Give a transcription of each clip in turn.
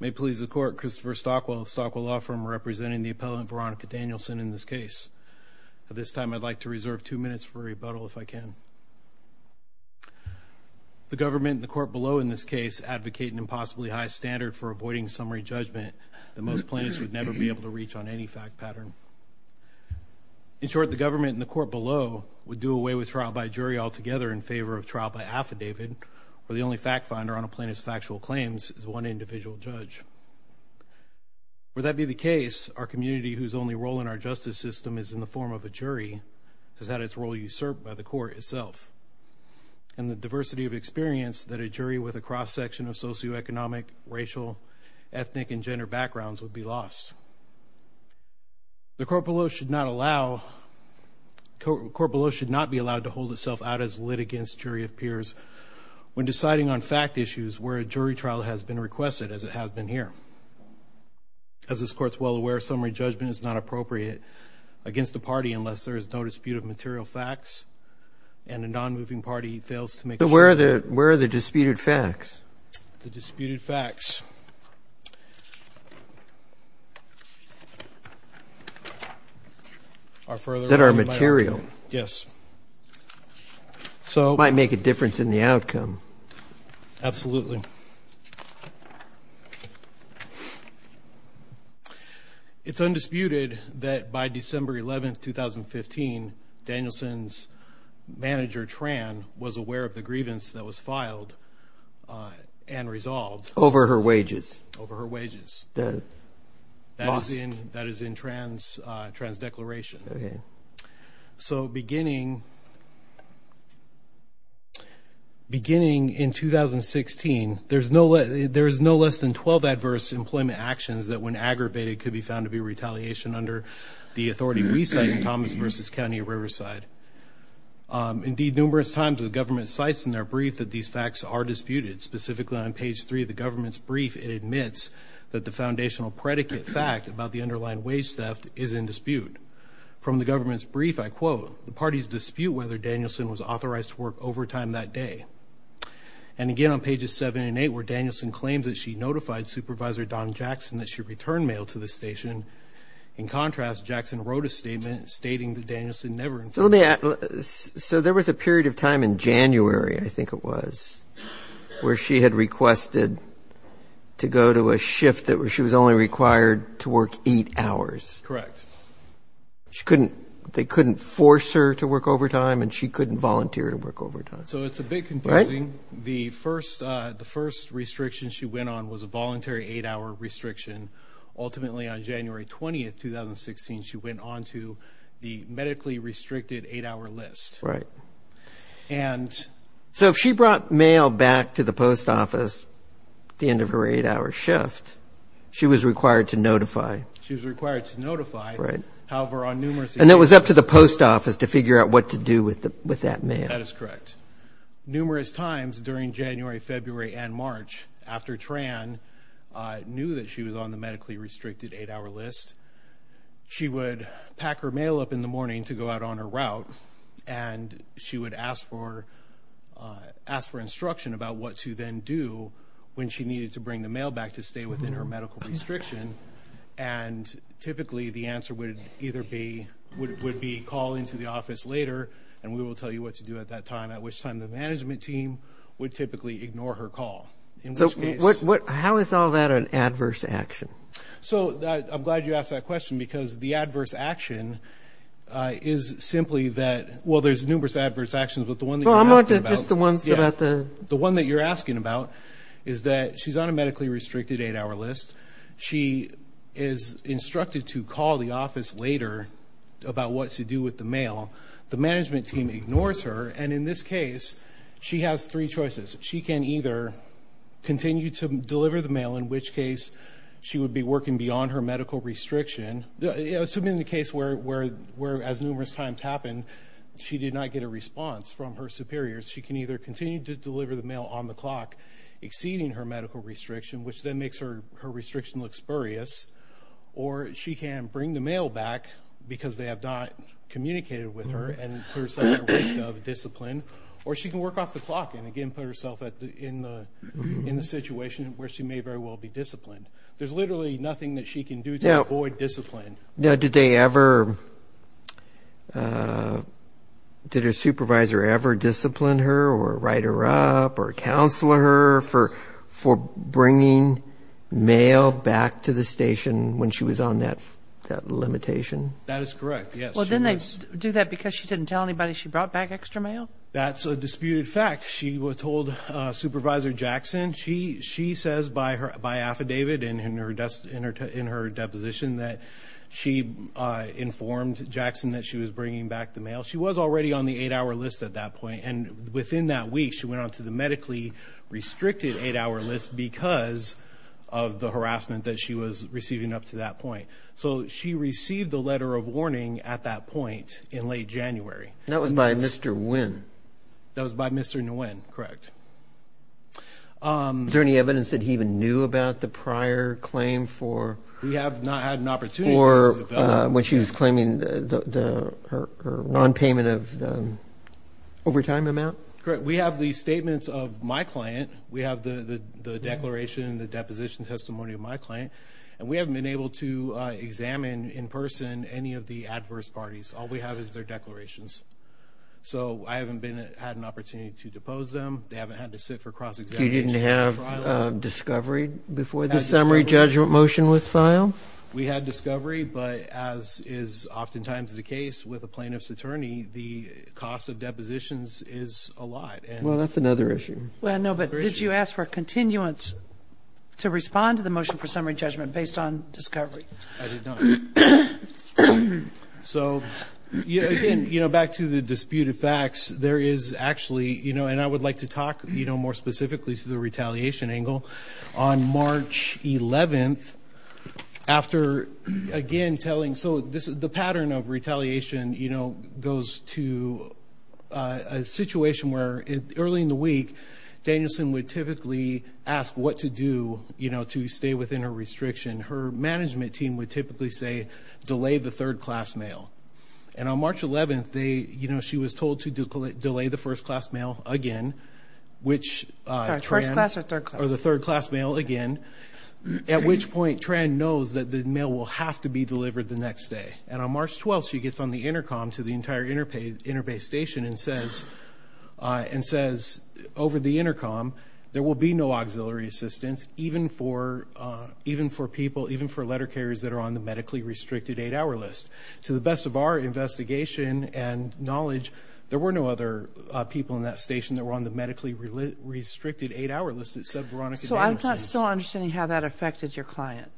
May please the court Christopher Stockwell of Stockwell Law Firm representing the appellant Veronica Danielson in this case. At this time I'd like to reserve two minutes for rebuttal if I can. The government in the court below in this case advocate an impossibly high standard for avoiding summary judgment that most plaintiffs would never be able to reach on any fact pattern. In short the government in the court below would do away with trial by jury altogether in favor of trial by affidavit or the only fact finder on a plaintiff's factual claim is one individual judge. Would that be the case our community whose only role in our justice system is in the form of a jury has had its role usurped by the court itself and the diversity of experience that a jury with a cross section of socio-economic racial ethnic and gender backgrounds would be lost. The court below should not allow, the court below should not be allowed to hold itself out as lit against jury of peers when deciding on fact issues where a non-moving party fails to make sure that the material has been requested as it has been here. As this court's well aware summary judgment is not appropriate against the party unless there is no dispute of material facts and a non-moving party fails to make sure. Where are the disputed facts? The disputed facts are further. That are material. Yes. So. Might make a difference in the outcome. Absolutely. It's undisputed that by December 11th 2015 Danielson's manager Tran was aware of the grievance that was filed and resolved. Over her wages. Over her wages. That is in Tran's declaration. Okay. So beginning. Beginning in 2016 there is no less than 12 adverse employment actions that when aggravated could be found to be retaliation under the authority we cite in Thomas vs. County of Riverside. Indeed numerous times the government cites in their brief that these facts are disputed. Specifically on page 3 of the government's brief it admits that the foundational predicate fact about the underlying wage theft is in dispute. From the government's brief I quote the party's dispute whether Danielson was authorized to work overtime that day. And again on pages 7 and 8 where Danielson claims that she notified supervisor Don Jackson that she returned mail to the station. In contrast Jackson wrote a statement stating that Danielson never. So there was a period of time in January I think it was where she had requested to go to a shift that she was only required to work 8 hours. Correct. They couldn't force her to work overtime and she couldn't volunteer to work overtime. So it's a bit confusing. The first restriction she went on was a voluntary 8 hour restriction. Ultimately on January 20th 2016 she went on to the medically restricted 8 hour list. Right. So if she brought mail back to the post office at the end of her 8 hour shift she was required to notify. She was required to notify. However on numerous occasions And it was up to the post office to figure out what to do with that mail. That is correct. Numerous times during January, February and March after Tran knew that she was on the medically restricted 8 hour list. She would pack her mail up in the morning to go out on her route and she would ask for instruction about what to then do when she needed to bring the mail back to stay within her medical restriction. And typically the answer would either be calling to the office later and we will tell you what to do at that time. At which time the management team would typically ignore her call. How is all that an adverse action? So I'm glad you asked that question because the adverse action is simply that, well there's numerous adverse actions but the one that you're asking about. The one that you're asking about is that she's on a medically restricted 8 hour list. She is instructed to call the office later about what to do with the mail. The management team ignores her and in this case she has three choices. She can either continue to deliver the mail in which case she would be working beyond her medical restriction. Assuming the case where as numerous times happened she did not get a response from her superiors. She can either continue to deliver the mail on the clock exceeding her medical restriction which then makes her restriction look spurious. Or she can bring the mail back because they have not communicated with her and put herself at risk of discipline. Or she can work off the clock and again put herself in the situation where she may very well be disciplined. There's literally nothing that she can do to avoid discipline. Did her supervisor ever discipline her or write her up or counsel her for bringing mail back to the station when she was on that limitation? That is correct, yes. Well didn't they do that because she didn't tell anybody she brought back extra mail? That's a disputed fact. She told Supervisor Jackson. She says by affidavit in her deposition that she informed Jackson that she was bringing back the mail. She was already on the 8 hour list at that point and within that week she went on to the medically restricted 8 hour list because of the harassment that she was receiving up to that point. So she received the letter of warning at that point in late January. And that was by Mr. Nguyen. That was by Mr. Nguyen, correct. Is there any evidence that he even knew about the prior claim for? We have not had an opportunity. Or when she was on payment of the overtime amount? We have the statements of my client. We have the declaration and the deposition testimony of my client. And we haven't been able to examine in person any of the adverse parties. All we have is their declarations. So I haven't had an opportunity to depose them. They haven't had to sit for cross-examination. You didn't have discovery before the summary judgment motion was filed? We had discovery, but as is oftentimes the case with a plaintiff's attorney, the cost of depositions is a lot. Well, that's another issue. Well, no, but did you ask for continuance to respond to the motion for summary judgment based on discovery? I did not. So, again, back to the disputed facts, there is actually and I would like to talk more specifically to the retaliation angle. On March 11th, after again telling, so the pattern of retaliation goes to a situation where early in the week, Danielson would typically ask what to do to stay within her restriction. Her management team would typically say delay the third class mail. And on March 11th, she was told to delay the first class mail again, which... First class or third class? Or the third class mail again, at which point Tran knows that the mail will have to be delivered the next day. And on March 12th, she gets on the intercom to the entire Interbay station and says over the intercom, there will be no auxiliary assistance even for people, even for letter carriers that are on the medically restricted eight-hour list. To the best of our investigation and knowledge, there were no other people in that station that were on the medically restricted eight-hour list. So I'm not still understanding how that affected your client.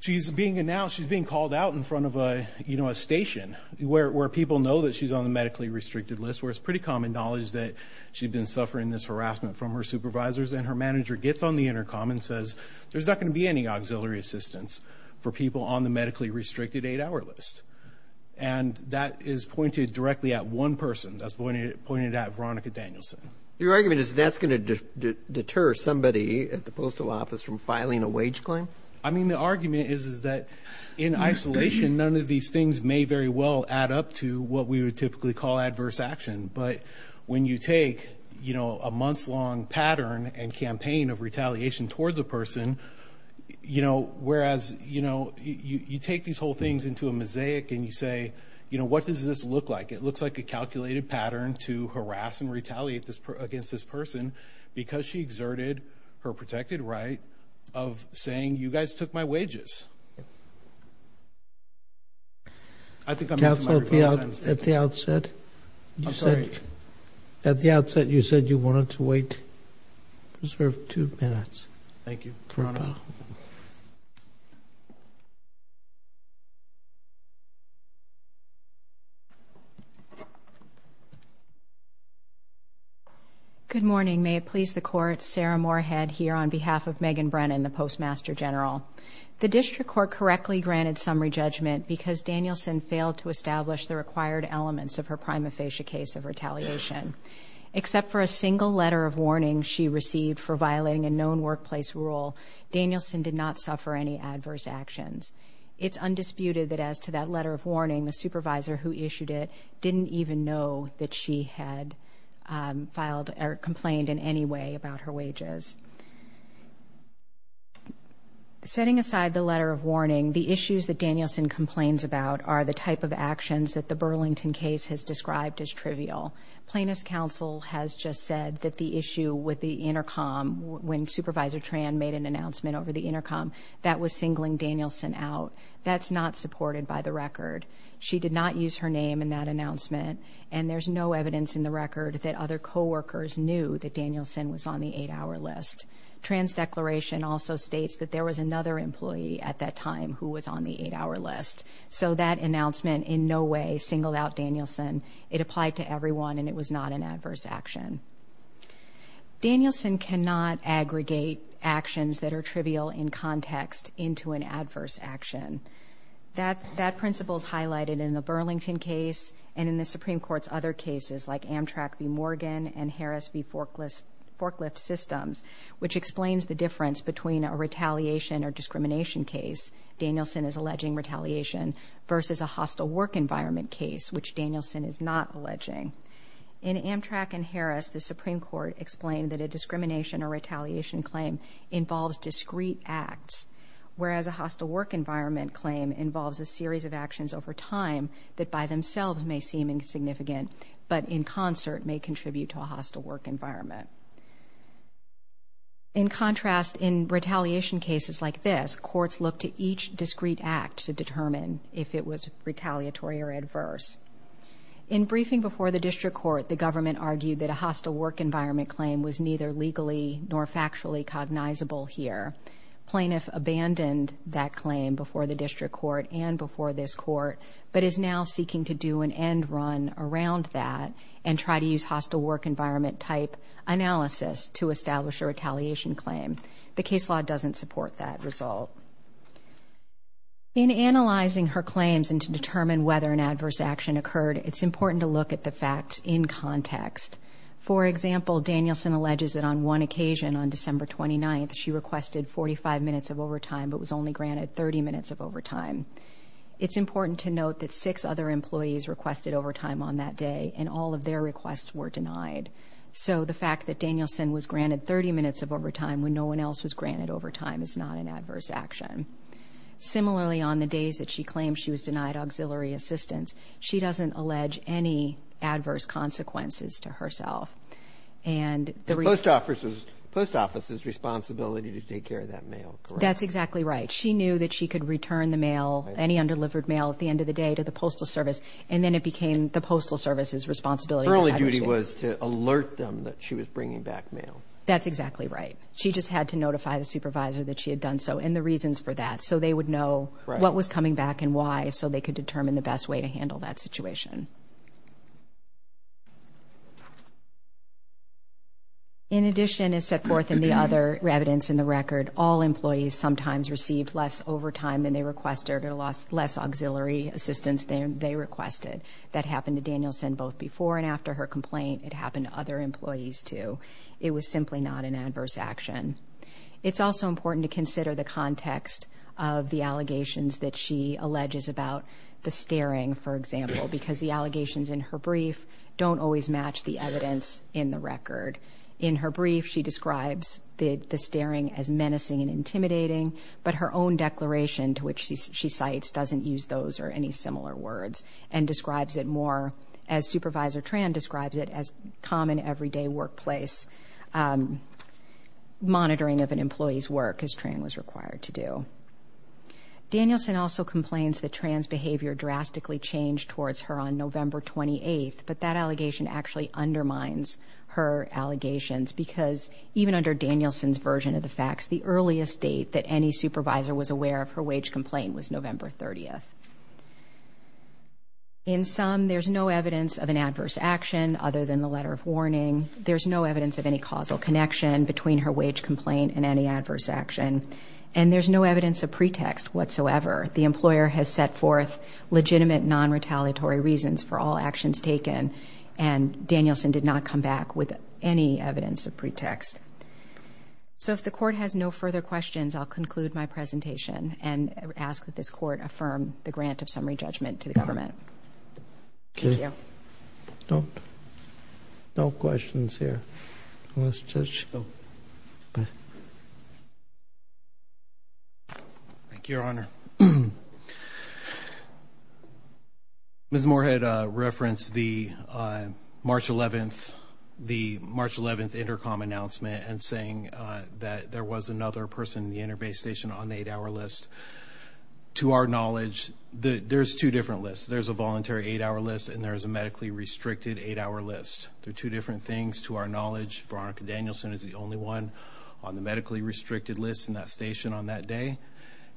She's being announced, she's being called out in front of a station where people know that she's on the medically restricted list, where it's pretty common knowledge that she'd been suffering this harassment from her supervisors. And her manager gets on the intercom and says, there's not going to be any auxiliary assistance for people on the medically restricted eight-hour list. And that is pointed directly at one person. That's pointed at Veronica Danielson. Your argument is that's going to deter somebody at the postal office from filing a wage claim? I mean, the argument is that in isolation, none of these things may very well add up to what we would typically call adverse action. But when you take a month's long pattern and campaign of retaliation towards a person, whereas you take these whole things into a mosaic and you say, what does this look like? It looks like a calculated pattern to harass and retaliate against this person because she exerted her protected right of saying, you guys took my wages. I think at the outset you said at the outset you said you wanted to wait, reserve two minutes. Thank you. Good morning. May it please the court. Sarah Moorhead here on behalf of Megan Brennan, the District Court correctly granted summary judgment because Danielson failed to establish the required elements of her prima facie case of retaliation. Except for a single letter of warning she received for violating a known workplace rule, Danielson did not suffer any adverse actions. It's undisputed that as to that letter of warning, the supervisor who issued it didn't even know that she had filed or complained in any way about her wages. Setting aside the letter of warning, the issues that Danielson complains about are the type of actions that the Burlington case has described as trivial. Plaintiff's counsel has just said that the issue with the intercom when Supervisor Tran made an announcement over the intercom, that was singling Danielson out. That's not supported by the record. She did not use her name in that announcement and there's no evidence in the record that other coworkers knew that Danielson was on the 8-hour list. Tran's declaration also states that there was another employee at that time who was on the 8-hour list. So that announcement in no way singled out Danielson. It applied to everyone and it was not an adverse action. Danielson cannot aggregate actions that are trivial in context into an adverse action. That principle is highlighted in the Burlington case and in the Supreme Court's other cases like Amtrak v. Morgan and Harris v. Forklift Systems, which explains the difference between a retaliation or discrimination case, Danielson is alleging retaliation, versus a hostile work environment case, which Danielson is not alleging. In Amtrak and Harris, the Supreme Court explained that a discrimination or retaliation claim involves discrete acts, whereas a hostile work environment claim involves a series of actions over time that by themselves may seem insignificant, but in concert may contribute to a hostile work environment. In contrast, in retaliation cases like this, courts look to each discrete act to determine if it was retaliatory or adverse. In briefing before the District Court, the plaintiff abandoned that claim before the District Court and before this court, but is now seeking to do an end run around that and try to use hostile work environment type analysis to establish a retaliation claim. The case law doesn't support that result. In analyzing her claims and to determine whether an adverse action occurred, it's important to look at the facts in context. For example, Danielson alleges that on one occasion, on December 29th, she requested 45 minutes of overtime, but was only granted 30 minutes of overtime. It's important to note that six other employees requested overtime on that day, and all of their requests were denied. So the fact that Danielson was granted 30 minutes of overtime when no one else was granted overtime is not an adverse action. Similarly, on the days that she claimed she was denied auxiliary assistance, she doesn't allege any adverse consequences to herself. Post office's responsibility to take care of that mail, correct? That's exactly right. She knew that she could return the mail, any undelivered mail, at the end of the day to the Postal Service, and then it became the Postal Service's responsibility. Her only duty was to alert them that she was bringing back mail. That's exactly right. She just had to notify the supervisor that she had done so, and the reasons for that, so they would know what was coming back and why, so they could determine the best way to handle that situation. In addition, as set forth in the other evidence in the record, all employees sometimes received less overtime than they requested or less auxiliary assistance than they requested. That happened to Danielson both before and after her complaint. It happened to other employees, too. It was simply not an adverse action. It's also important to consider the context of the allegations that she alleges about the staring, for example, because the allegations in her brief don't always match the evidence in the record. In her brief, she describes the staring as menacing and intimidating, but her own report describes it more, as Supervisor Tran describes it, as common everyday workplace monitoring of an employee's work, as Tran was required to do. Danielson also complains that Tran's behavior drastically changed towards her on November 28th, but that allegation actually undermines her allegations, because even under Danielson's version of the facts, the earliest date that any supervisor was aware of her wage complaint was November 30th. In sum, there's no evidence of an adverse action other than the letter of warning. There's no evidence of any causal connection between her wage complaint and any adverse action, and there's no evidence of pretext whatsoever. The employer has set forth legitimate non-retaliatory reasons for all actions taken, and Danielson did not come back with any evidence of pretext. So if the Court has no further questions, I'll conclude my presentation and ask that this Court affirm the grant of summary judgment to the government. Thank you. Thank you, Your Honor. Ms. Moorhead referenced the March 11th, the March 11th intercom announcement, and saying that there was another person in the interbase station on the eight-hour list. To our knowledge, there's two different lists. There's a voluntary eight-hour list, and there's a medically-restricted eight-hour list. They're two different things. To our knowledge, Veronica Danielson is the only one on the medically-restricted list in that station on that day,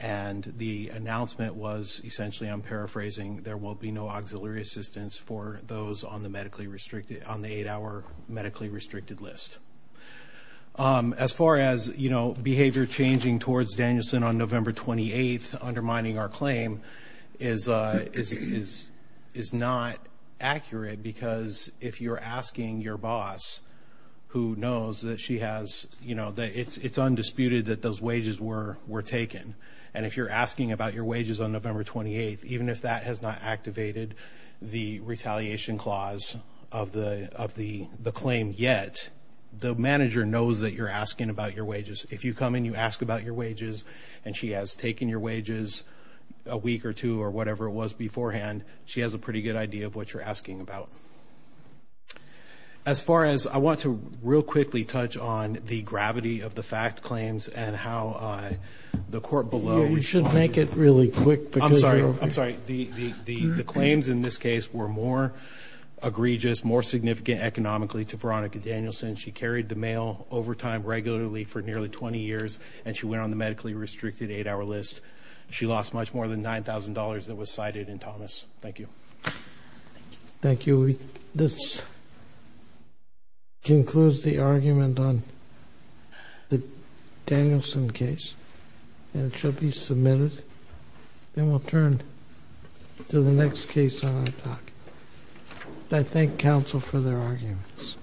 and the announcement was essentially, I'm paraphrasing, there will be no auxiliary assistance for those on the medically-restricted, on the eight-hour medically-restricted list. As far as, you know, behavior changing towards Danielson on November 28th undermining our claim is not accurate, because if you're asking your boss, who knows that she has, you know, it's undisputed that those wages were taken, and if you're asking about your wages on November 28th, even if that has not activated the retaliation clause of the claim yet, the manager knows that you're asking about your wages. If you come in, you ask about your wages, and she has taken your wages a week or two or whatever it was beforehand, she has a pretty good idea of what you're asking about. As far as, I want to real quickly touch on the gravity of the fact claims and how the court below... I'm sorry, the claims in this case were more egregious, more significant economically to Veronica Danielson. She carried the mail overtime regularly for nearly 20 years, and she went on the medically-restricted eight-hour list. She lost much more than $9,000 that was cited in Thomas. Thank you. Thank you. This concludes the argument on the Danielson case, and it shall be submitted. To the next case on our docket. I thank counsel for their arguments.